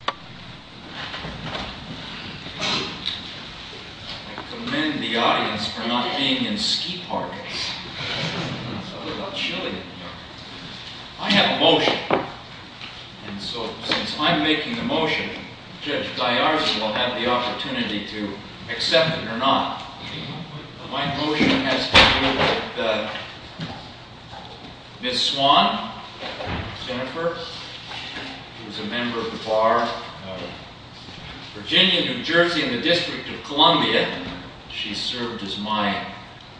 I commend the audience for not being in ski parks. It's a little chilly in here. I have a motion. And so, since I'm making the motion, Judge Diarza will have the opportunity to accept it or not. My motion has to do with Ms. Swan, Jennifer, who is a member of the Bar of Virginia, New Jersey, and the District of Columbia. She served as my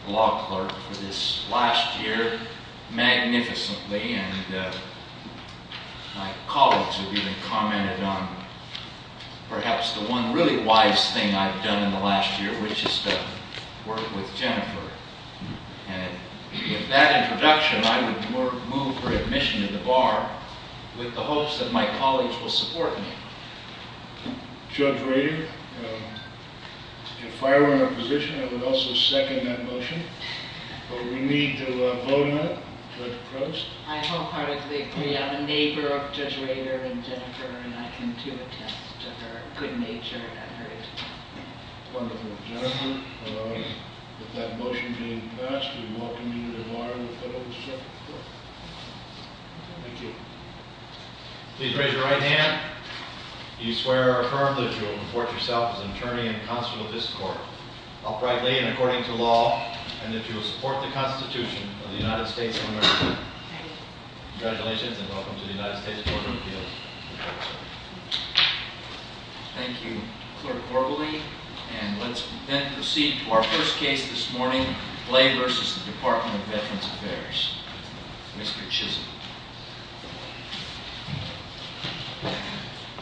law clerk for this last year magnificently. My colleagues have even commented on perhaps the one really wise thing I've done in the last year, which is to work with Jennifer. And with that introduction, I would move her admission to the Bar with the hopes that my colleagues will support me. Judge Rader, if I were in her position, I would also second that motion. But we need to vote on it. Judge Cruz? I wholeheartedly agree. I'm a neighbor of Judge Rader and Jennifer, and I can, too, attest to her good nature and her interest. Wonderful. Jennifer, with that motion being passed, we welcome you to the Bar of the Federal District of Columbia. Thank you. Please raise your right hand. Do you swear or affirm that you will report yourself as an attorney and counsel to this court, uprightly and according to law, and that you will support the Constitution of the United States of America? I do. Congratulations, and welcome to the United States Court of Appeals. Thank you, Clerk Orbeli. And let's then proceed to our first case this morning, Clay v. Department of Veterans Affairs. Mr. Chisholm.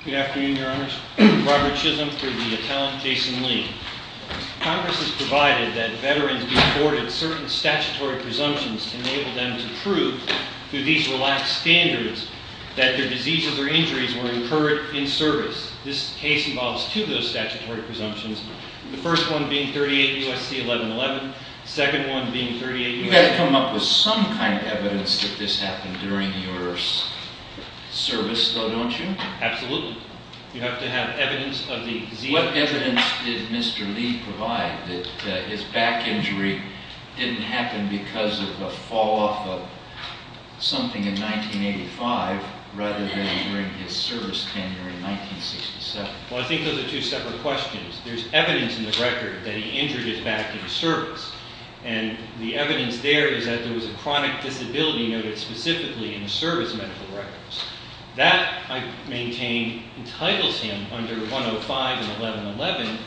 Good afternoon, Your Honors. Robert Chisholm for the Atalant, Jason Lee. Congress has provided that veterans be afforded certain statutory presumptions to enable them to prove, through these relaxed standards, that their diseases or injuries were incurred in service. This case involves two of those statutory presumptions, the first one being 38 U.S.C. 1111, the second one being 38 U.S.C. 1111. You've got to come up with some kind of evidence that this happened during your service, though, don't you? Absolutely. You have to have evidence of the disease. What evidence did Mr. Lee provide that his back injury didn't happen because of a fall-off of something in 1985, rather than during his service tenure in 1967? Well, I think those are two separate questions. There's evidence in the record that he injured his back in service, and the evidence there is that there was a chronic disability noted specifically in the service medical records. That, I maintain, entitles him, under 105 and 1111,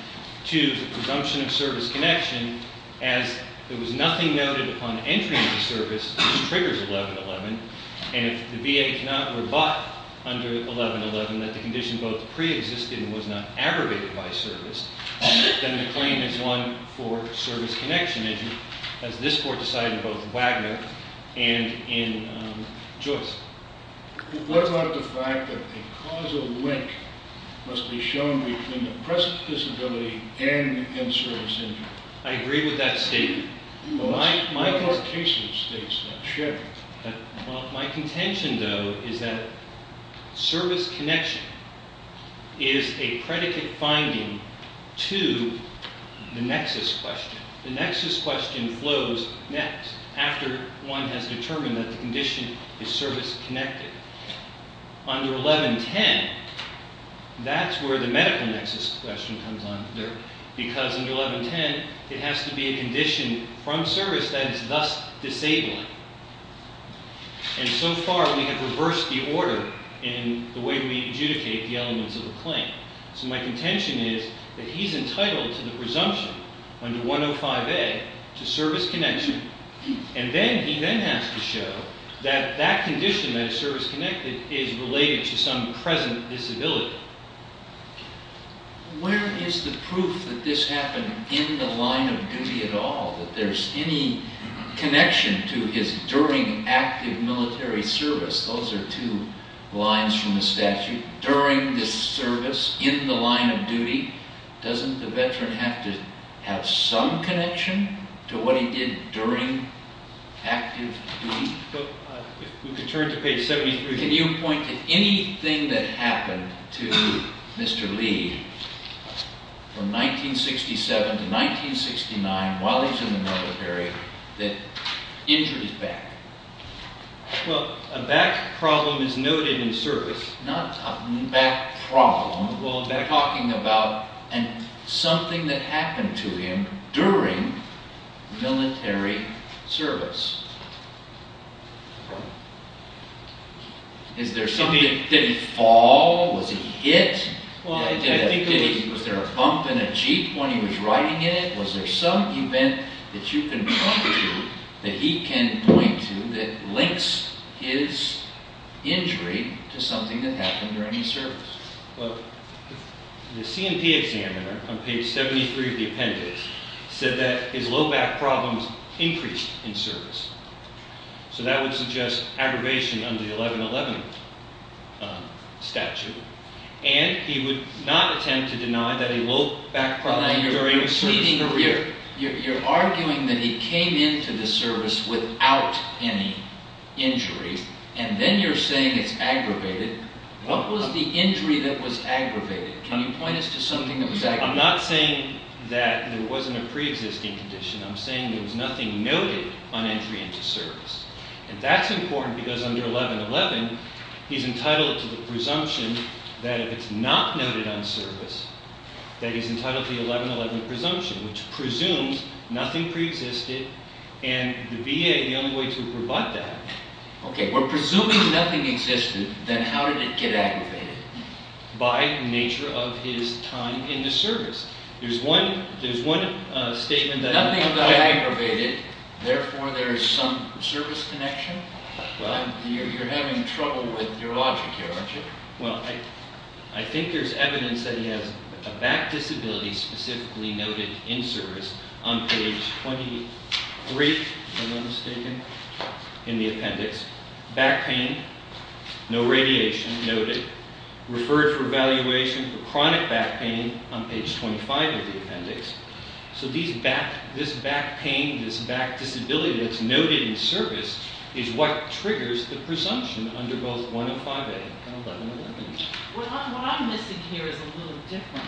to the presumption of service connection, as there was nothing noted upon entry into service which triggers 1111, and if the VA cannot rebut under 1111 that the condition both preexisted and was not aggravated by service, then the claim is won for service connection injury, as this Court decided in both Wagner and in Joyce. What about the fact that a causal link must be shown between the present disability and in-service injury? I agree with that statement. What about the case that states that? My contention, though, is that service connection is a predicate finding to the nexus question. The nexus question flows next, after one has determined that the condition is service connected. Under 1110, that's where the medical nexus question comes under, because under 1110, it has to be a condition from service that is thus disabling. And so far, we have reversed the order in the way we adjudicate the elements of the claim. So my contention is that he's entitled to the presumption under 105A to service connection, and then he then has to show that that condition that is service connected is related to some present disability. Where is the proof that this happened in the line of duty at all, that there's any connection to his during active military service? Those are two lines from the statute. During the service in the line of duty, doesn't the veteran have to have some connection to what he did during active duty? If we could turn to page 73. Can you point to anything that happened to Mr. Lee from 1967 to 1969 while he was in the military that injured his back? Well, a back problem is noted in service. Not a back problem. We're talking about something that happened to him during military service. Did he fall? Was he hit? Was there a bump in a jeep when he was riding in it? Was there some event that you can point to that he can point to that links his injury to something that happened during his service? Well, the C&P examiner on page 73 of the appendix said that his low back problems increased in service. So that would suggest aggravation under the 1111 statute. And he would not attempt to deny that a low back problem during his service occurred. You're arguing that he came into the service without any injury. And then you're saying it's aggravated. What was the injury that was aggravated? Can you point us to something that was aggravated? I'm not saying that there wasn't a preexisting condition. I'm saying there was nothing noted on entry into service. And that's important because under 1111, he's entitled to the presumption that if it's not noted on service, that he's entitled to the 1111 presumption, which presumes nothing preexisted, and the VA is the only way to rebut that. Okay, we're presuming nothing existed. Then how did it get aggravated? By nature of his time in the service. Nothing got aggravated. Therefore, there is some service connection. You're having trouble with your logic here, aren't you? Well, I think there's evidence that he has a back disability specifically noted in service on page 23, if I'm not mistaken, in the appendix. Back pain, no radiation noted. Referred for evaluation for chronic back pain on page 25 of the appendix. So this back pain, this back disability that's noted in service is what triggers the presumption under both 105A and 1111. What I'm missing here is a little different.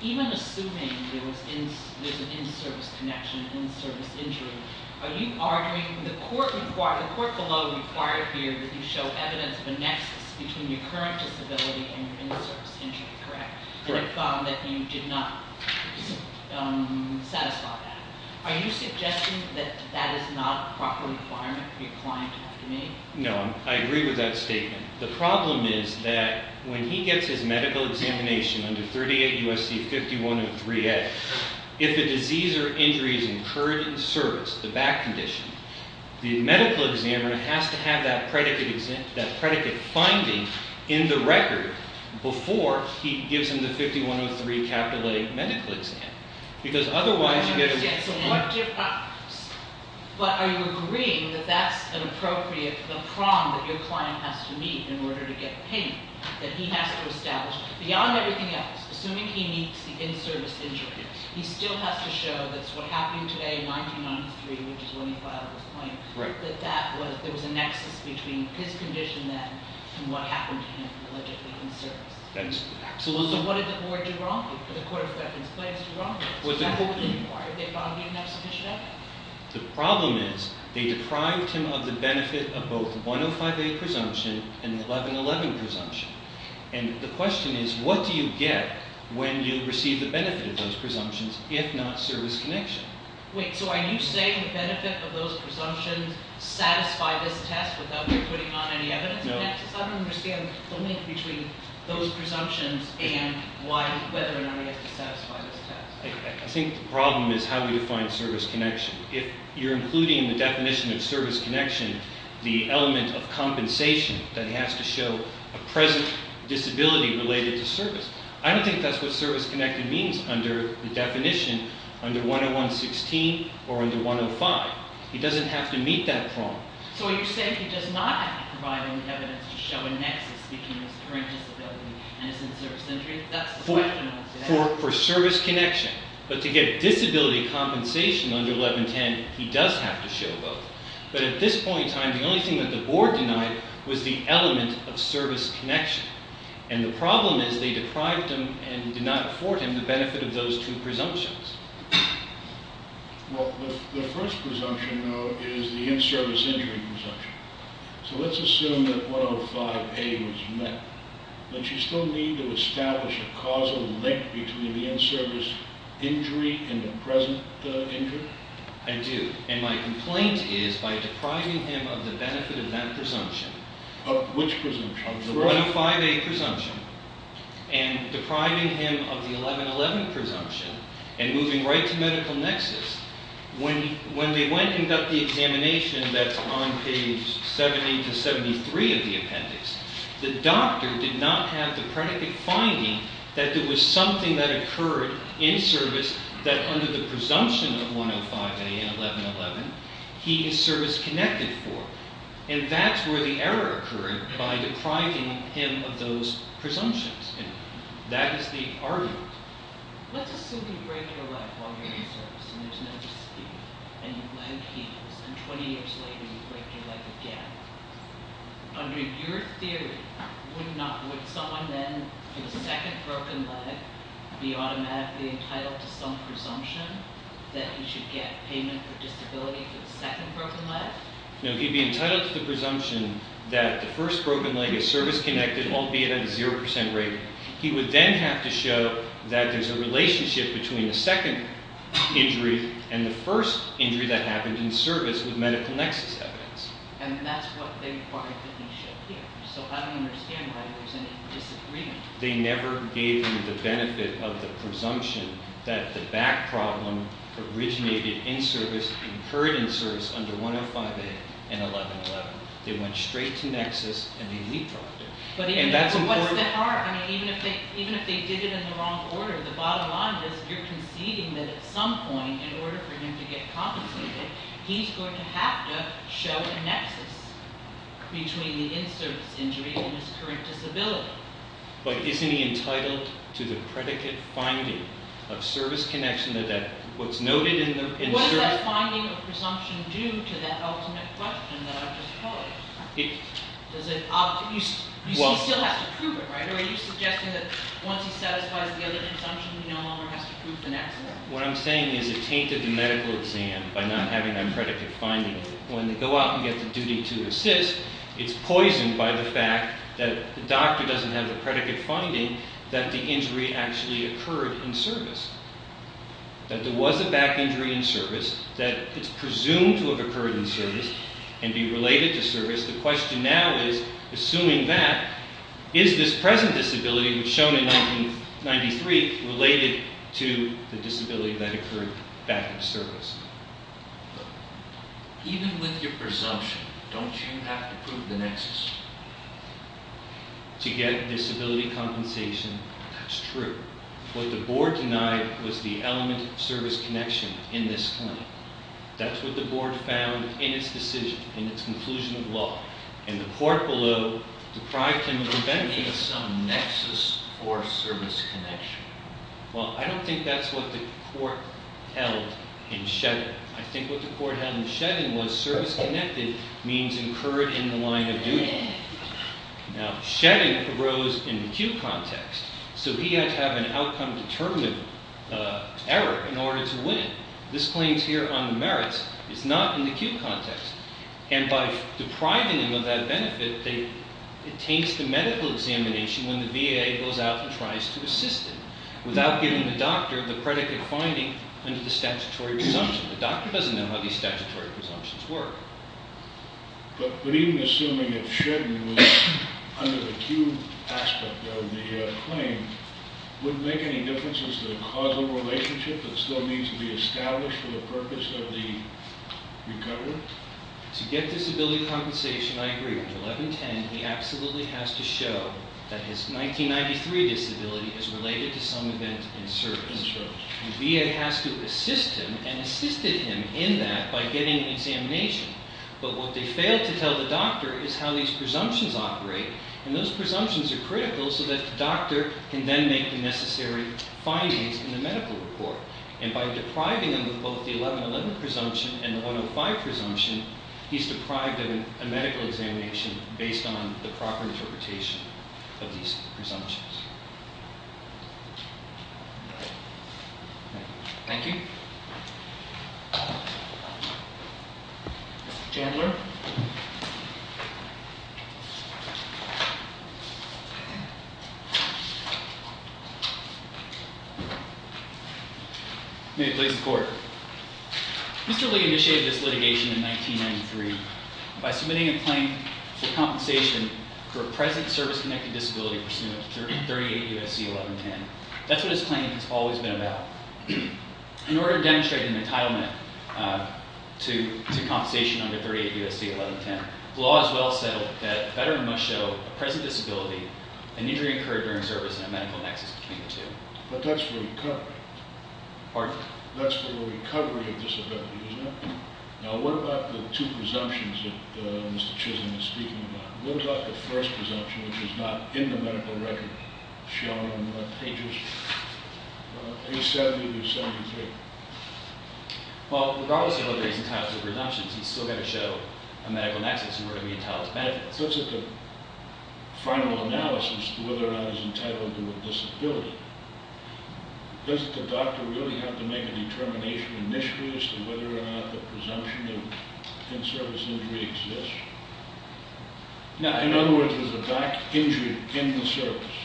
Even assuming there's an in-service connection, an in-service injury, are you arguing the court below required here that you show evidence of a nexus between your current disability and your in-service injury, correct? Correct. That you did not satisfy that. Are you suggesting that that is not a proper requirement for your client to have to make? No, I agree with that statement. The problem is that when he gets his medical examination under 38 U.S.C. 5103A, if a disease or injury is incurred in service, the back condition, the medical examiner has to have that predicate finding in the record before he gives him the 5103A medical exam. But are you agreeing that that's an appropriate, the prong that your client has to meet in order to get the pain that he has to establish? Beyond everything else, assuming he meets the in-service injury, he still has to show that's what happened today in 1993, which is when he filed his claim, that there was a nexus between his condition then and what happened to him allegedly in service. So what did the court do wrong? The court of reference claims were wrong. What did the court do wrong? Did they find he didn't have sufficient evidence? The problem is they deprived him of the benefit of both 105A presumption and 1111 presumption. And the question is, what do you get when you receive the benefit of those presumptions if not service connection? Wait, so are you saying the benefit of those presumptions satisfy this test without putting on any evidence of nexus? I don't understand the link between those presumptions and whether or not he has to satisfy this test. I think the problem is how we define service connection. If you're including the definition of service connection, the element of compensation that he has to show a present disability related to service, I don't think that's what service connection means under the definition under 10116 or under 105. He doesn't have to meet that prong. So are you saying he does not have to provide any evidence to show a nexus between his current disability and his in-service injury? For service connection. But to get disability compensation under 1110, he does have to show both. But at this point in time, the only thing that the board denied was the element of service connection. And the problem is they deprived him and did not afford him the benefit of those two presumptions. Well, the first presumption, though, is the in-service injury presumption. So let's assume that 105A was met. But you still need to establish a causal link between the in-service injury and the present injury? I do. And my complaint is by depriving him of the benefit of that presumption. Of which presumption? Of the 105A presumption and depriving him of the 1111 presumption and moving right to medical nexus. When they went and got the examination that's on page 70 to 73 of the appendix, the doctor did not have the predicate finding that there was something that occurred in service that under the presumption of 105A and 1111, he is service connected for. And that's where the error occurred by depriving him of those presumptions. And that is the argument. Let's assume you break your leg while you're in service and there's no disability and your leg heals and 20 years later you break your leg again. Under your theory, would someone then, for the second broken leg, be automatically entitled to some presumption that he should get payment for disability for the second broken leg? No, he'd be entitled to the presumption that the first broken leg is service connected, albeit at a 0% rate. He would then have to show that there's a relationship between the second injury and the first injury that happened in service with medical nexus evidence. And that's what they required that he show here. So I don't understand why there's any disagreement. They never gave him the benefit of the presumption that the back problem originated in service, incurred in service under 105A and 1111. They went straight to nexus and they redrafted it. But what's the harm? Even if they did it in the wrong order, the bottom line is you're conceding that at some point, in order for him to get compensated, he's going to have to show a nexus between the in-service injury and his current disability. But isn't he entitled to the predicate finding of service connection that what's noted in the- What does that finding of presumption do to that ultimate question that I've just told you? You still have to prove it, right? Are you suggesting that once he satisfies the other presumption, he no longer has to prove the nexus? What I'm saying is it tainted the medical exam by not having that predicate finding. When they go out and get the duty to assist, it's poisoned by the fact that the doctor doesn't have the predicate finding that the injury actually occurred in service. That there was a back injury in service, that it's presumed to have occurred in service and be related to service. The question now is, assuming that, is this present disability, which was shown in 1993, related to the disability that occurred back in service? Even with your presumption, don't you have to prove the nexus? To get disability compensation, that's true. What the board denied was the element of service connection in this claim. That's what the board found in its decision, in its conclusion of law. And the court below deprived him of that. You need some nexus for service connection. Well, I don't think that's what the court held in shedding. I think what the court held in shedding was service connected means incurred in the line of duty. Now, shedding arose in the cue context. So he had to have an outcome-determined error in order to win. This claims here on the merits is not in the cue context. And by depriving him of that benefit, it taints the medical examination when the VA goes out and tries to assist him, without giving the doctor the predicate finding under the statutory presumption. The doctor doesn't know how these statutory presumptions work. But even assuming that shedding was under the cue aspect of the claim, would it make any difference as to the causal relationship that still needs to be established for the purpose of the recovery? To get disability compensation, I agree. Under 1110, he absolutely has to show that his 1993 disability is related to some event in service. The VA has to assist him, and assisted him in that by getting an examination. But what they failed to tell the doctor is how these presumptions operate. And those presumptions are critical so that the doctor can then make the necessary findings in the medical report. And by depriving him of both the 1111 presumption and the 105 presumption, he's deprived of a medical examination based on the proper interpretation of these presumptions. Thank you. Mr. Chandler. May it please the court. Mr. Lee initiated this litigation in 1993 by submitting a claim for compensation for a present service-connected disability pursuant to 38 U.S.C. 1110. That's what his claim has always been about. In order to demonstrate an entitlement to compensation under 38 U.S.C. 1110, the law is well settled that a veteran must show a present disability, an injury incurred during service, and a medical nexus between the two. But that's for recovery. Pardon? That's for the recovery of disability, isn't it? Now what about the two presumptions that Mr. Chisholm is speaking about? What about the first presumption, which is not in the medical record, shown on pages 87 through 73? Well, regardless of whether he's entitled to a presumption, he's still going to show a medical nexus in order to be entitled to benefits. So it's at the final analysis whether or not he's entitled to a disability. Does the doctor really have to make a determination initially as to whether or not the presumption of in-service injury exists? In other words, there's a back injury in the service,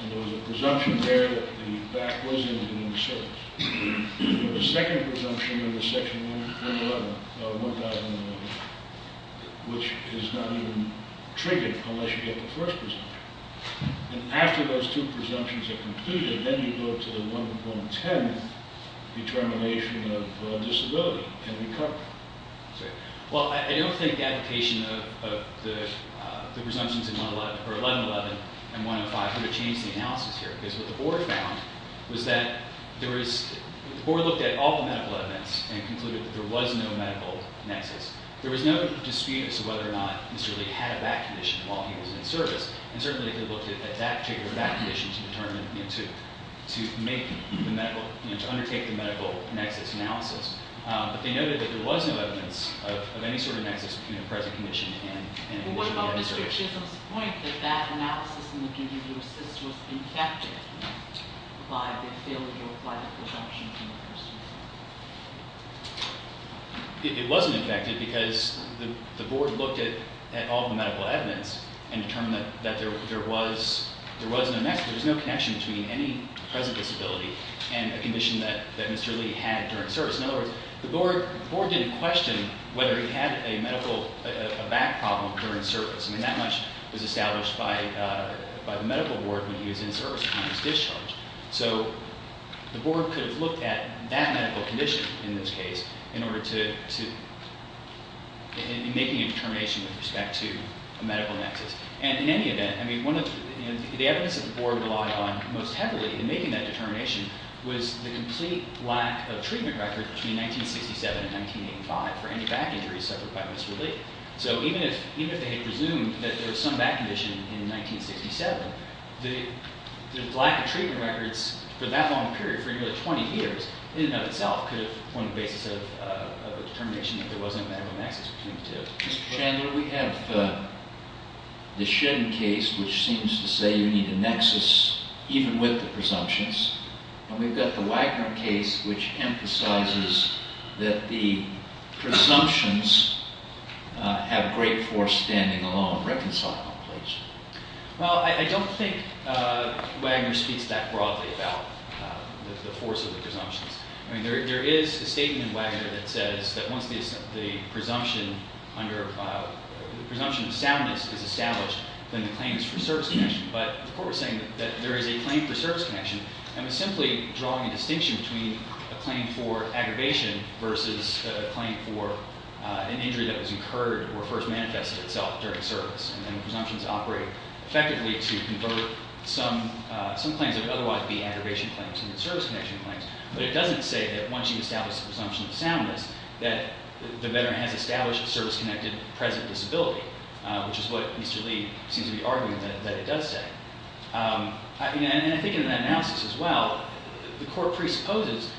and there's a presumption there that the back was injured in the service. There's a second presumption in Section 111, which is not even treated unless you get the first presumption. And after those two presumptions are concluded, then you go to the 1.10 determination of disability and recovery. Well, I don't think the application of the presumptions in 111 and 105 would have changed the analysis here, because what the board found was that the board looked at all the medical evidence and concluded that there was no medical nexus. There was no dispute as to whether or not Mr. Lee had a back condition while he was in service, and certainly they could have looked at that particular back condition to make the medical, to undertake the medical nexus analysis. But they noted that there was no evidence of any sort of nexus between a present condition and an injury. Well, what about Mr. Chisholm's point that that analysis in the PDU Assist was infected by the failure to apply the presumptions in the first place? It wasn't infected, because the board looked at all the medical evidence and determined that there was no connection between any present disability and a condition that Mr. Lee had during service. In other words, the board didn't question whether he had a medical, a back problem during service. I mean, that much was established by the medical board when he was in service, when he was discharged. So the board could have looked at that medical condition in this case in order to, in making a determination with respect to a medical nexus. And in any event, I mean, the evidence that the board relied on most heavily in making that determination was the complete lack of treatment records between 1967 and 1985 for any back injuries suffered by Mr. Lee. So even if they had presumed that there was some back condition in 1967, the lack of treatment records for that long a period, for nearly 20 years, in and of itself could have formed the basis of a determination that there was no medical nexus between the two. Mr. Chandler, we have the Shedden case, which seems to say you need a nexus even with the presumptions. And we've got the Wagner case, which emphasizes that the presumptions have great force standing along reconciling plates. Well, I don't think Wagner speaks that broadly about the force of the presumptions. I mean, there is a statement in Wagner that says that once the presumption of soundness is established, then the claim is for service connection. But the court was saying that there is a claim for service connection, and was simply drawing a distinction between a claim for aggravation versus a claim for an injury that was incurred or first manifested itself during service. And the presumptions operate effectively to convert some claims that would otherwise be aggravation claims into service connection claims. But it doesn't say that once you establish the presumption of soundness that the veteran has established service-connected present disability, which is what Mr. Lee seems to be arguing that it does say. And I think in that analysis as well, the court presupposes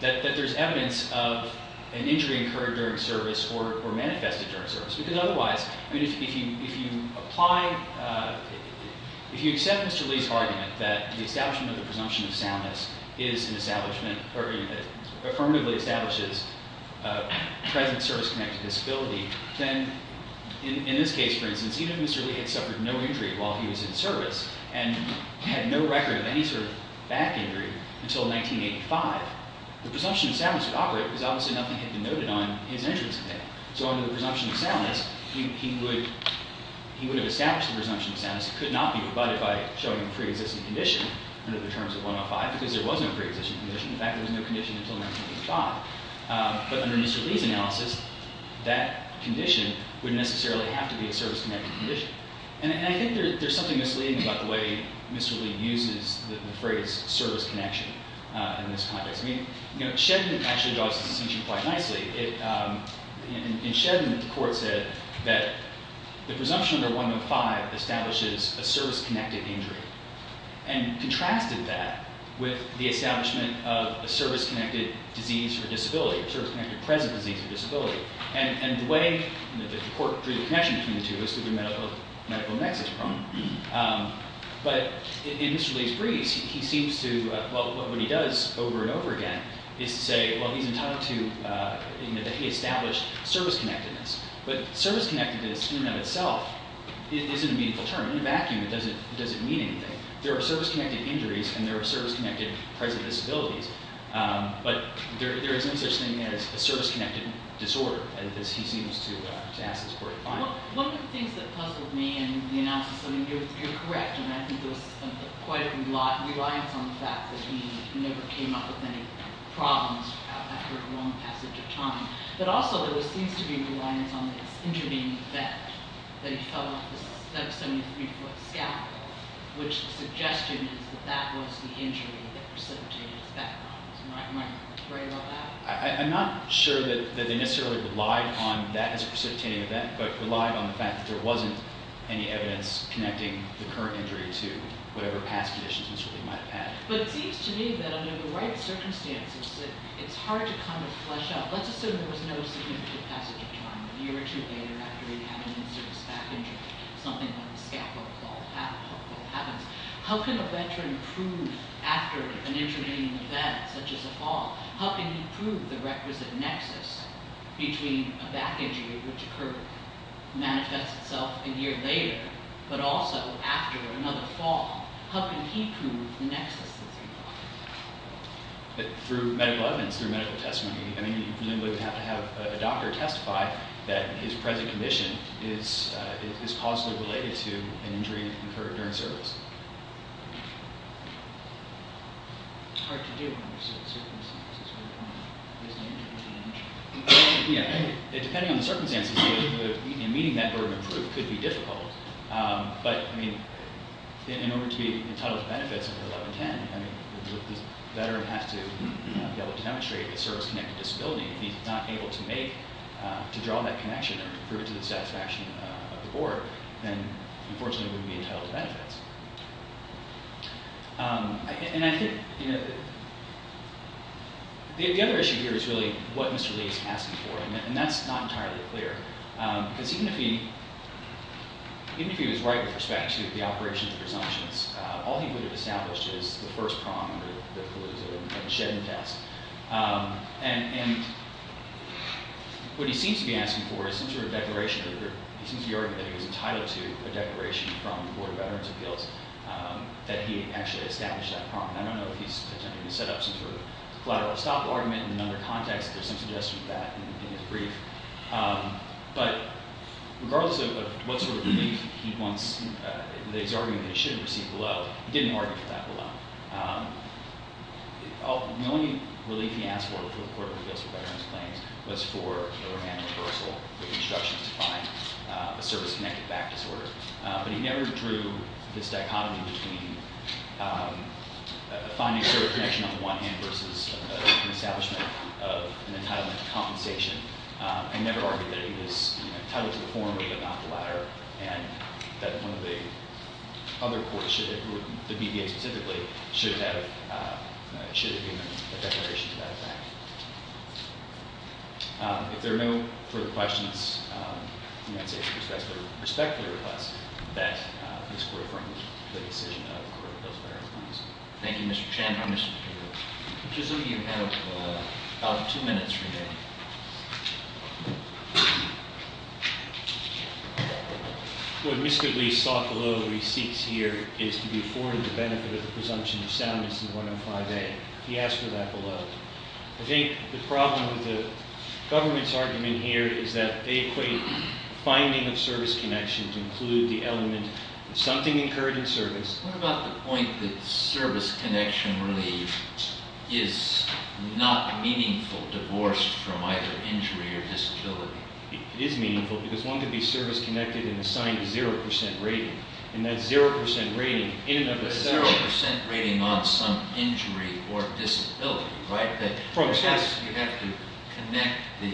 that there's evidence of an injury incurred during service or manifested during service. Because otherwise, if you accept Mr. Lee's argument that the establishment of the presumption of soundness affirmatively establishes present service-connected disability, then in this case, for instance, even if Mr. Lee had suffered no injury while he was in service and had no record of any sort of back injury until 1985, the presumption of soundness would operate because obviously nothing had been noted on his injuries. So under the presumption of soundness, he would have established the presumption of soundness. It could not be rebutted by showing a preexisting condition under the terms of 105 because there was no preexisting condition. In fact, there was no condition until 1985. But under Mr. Lee's analysis, that condition wouldn't necessarily have to be a service-connected condition. And I think there's something misleading about the way Mr. Lee uses the phrase service connection in this context. I mean, Shedman actually draws this distinction quite nicely. In Shedman, the court said that the presumption under 105 establishes a service-connected injury and contrasted that with the establishment of a service-connected disease or disability, a service-connected present disease or disability. And the way that the court drew the connection between the two is through the medical nexus problem. But in Mr. Lee's briefs, he seems to – what he does over and over again is to say, well, he's entitled to – that he established service-connectedness. But service-connectedness in and of itself isn't a meaningful term. In a vacuum, it doesn't mean anything. There are service-connected injuries and there are service-connected present disabilities. But there is no such thing as a service-connected disorder as he seems to ask this court to find. One of the things that puzzled me in the analysis, I mean, you're correct, and I think there was quite a lot of reliance on the fact that he never came up with any problems after a long passage of time. But also there seems to be a reliance on this injury being a bet that he fell off a 73-foot scaffold, which the suggestion is that that was the injury that precipitated his background. Am I right about that? I'm not sure that they necessarily relied on that as a precipitating event, but relied on the fact that there wasn't any evidence connecting the current injury to whatever past conditions Mr. Lee might have had. But it seems to me that under the right circumstances, it's hard to kind of flesh out – let's assume there was no significant passage of time, a year or two later after he'd had an in-service back injury, something like a scaffold fall happens. How can a veteran prove, after an intervening event such as a fall, how can he prove the requisite nexus between a back injury which occurred, manifests itself a year later, but also after another fall, how can he prove the nexus that's involved? Through medical evidence, through medical testimony. I mean, you presumably would have to have a doctor testify that his present condition is causally related to an injury incurred during service. It's hard to do under certain circumstances. Depending on the circumstances, meeting that burden of proof could be difficult. But in order to be entitled to benefits under 1110, this veteran has to be able to demonstrate a service-connected disability. If he's not able to draw that connection or prove it to the satisfaction of the board, then, unfortunately, he wouldn't be entitled to benefits. And I think the other issue here is really what Mr. Lee is asking for. And that's not entirely clear. Because even if he was right with respect to the operations and presumptions, all he would have established is the first prong under the collusive and shed in test. And what he seems to be asking for is some sort of declaration. He seems to be arguing that he was entitled to a declaration from the Board of Veterans' Appeals that he actually established that prong. I don't know if he's attempting to set up some sort of collateral stop argument in another context. There's some suggestion of that in his brief. But regardless of what sort of relief he wants, he's arguing that he should have received below. He didn't argue for that below. The only relief he asked for to the Court of Appeals for Veterans Claims was for a remand reversal with instructions to find a service-connected back disorder. But he never drew this dichotomy between finding a connection on the one hand versus an establishment of an entitlement to compensation. He never argued that he was entitled to the former but not the latter, and that one of the other courts, the BVA specifically, should have given a declaration to that effect. If there are no further questions, I'd say with respect to the request, that this Court affirms the decision of the Court of Appeals for Veterans Claims. Thank you, Mr. Chairman. Mr. Chairman, I presume you have about two minutes remaining. What Mr. Lee sought below what he seeks here is to be afforded the benefit of the presumption of soundness in 105A. He asked for that below. I think the problem with the government's argument here is that they equate finding a service connection to include the element of something incurred in service. What about the point that service connection really is not meaningful divorced from either injury or disability? It is meaningful because one could be service connected and assigned a 0% rating, and that 0% rating in and of itself- A 0% rating on some injury or disability, right? Yes. You have to connect the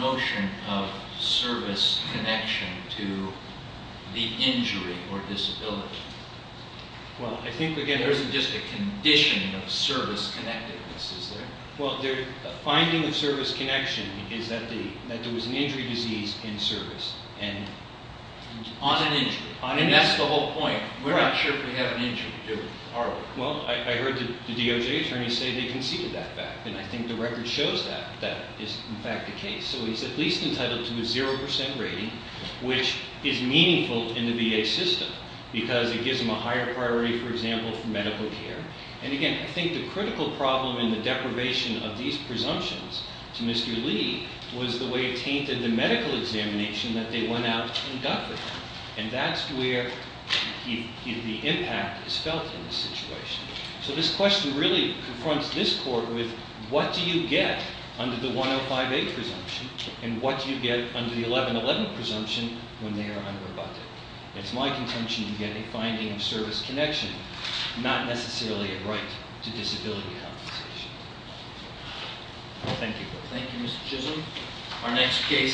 notion of service connection to the injury or disability. Well, I think again- There isn't just a condition of service connectedness, is there? Well, the finding of service connection is that there was an injury disease in service and- On an injury. On an injury. And that's the whole point. We're not sure if we have an injury to do with our work. Well, I heard the DOJ attorney say they conceded that fact, and I think the record shows that that is in fact the case. So he's at least entitled to a 0% rating, which is meaningful in the VA system because it gives him a higher priority, for example, for medical care. And again, I think the critical problem in the deprivation of these presumptions to Mr. Lee was the way it tainted the medical examination that they went out and got for him. And that's where the impact is felt in this situation. So this question really confronts this court with what do you get under the 105A presumption, and what do you get under the 1111 presumption when they are unrebutted? It's my contention to get a finding of service connection, not necessarily a right to disability compensation. Thank you. Thank you, Mr. Chisholm.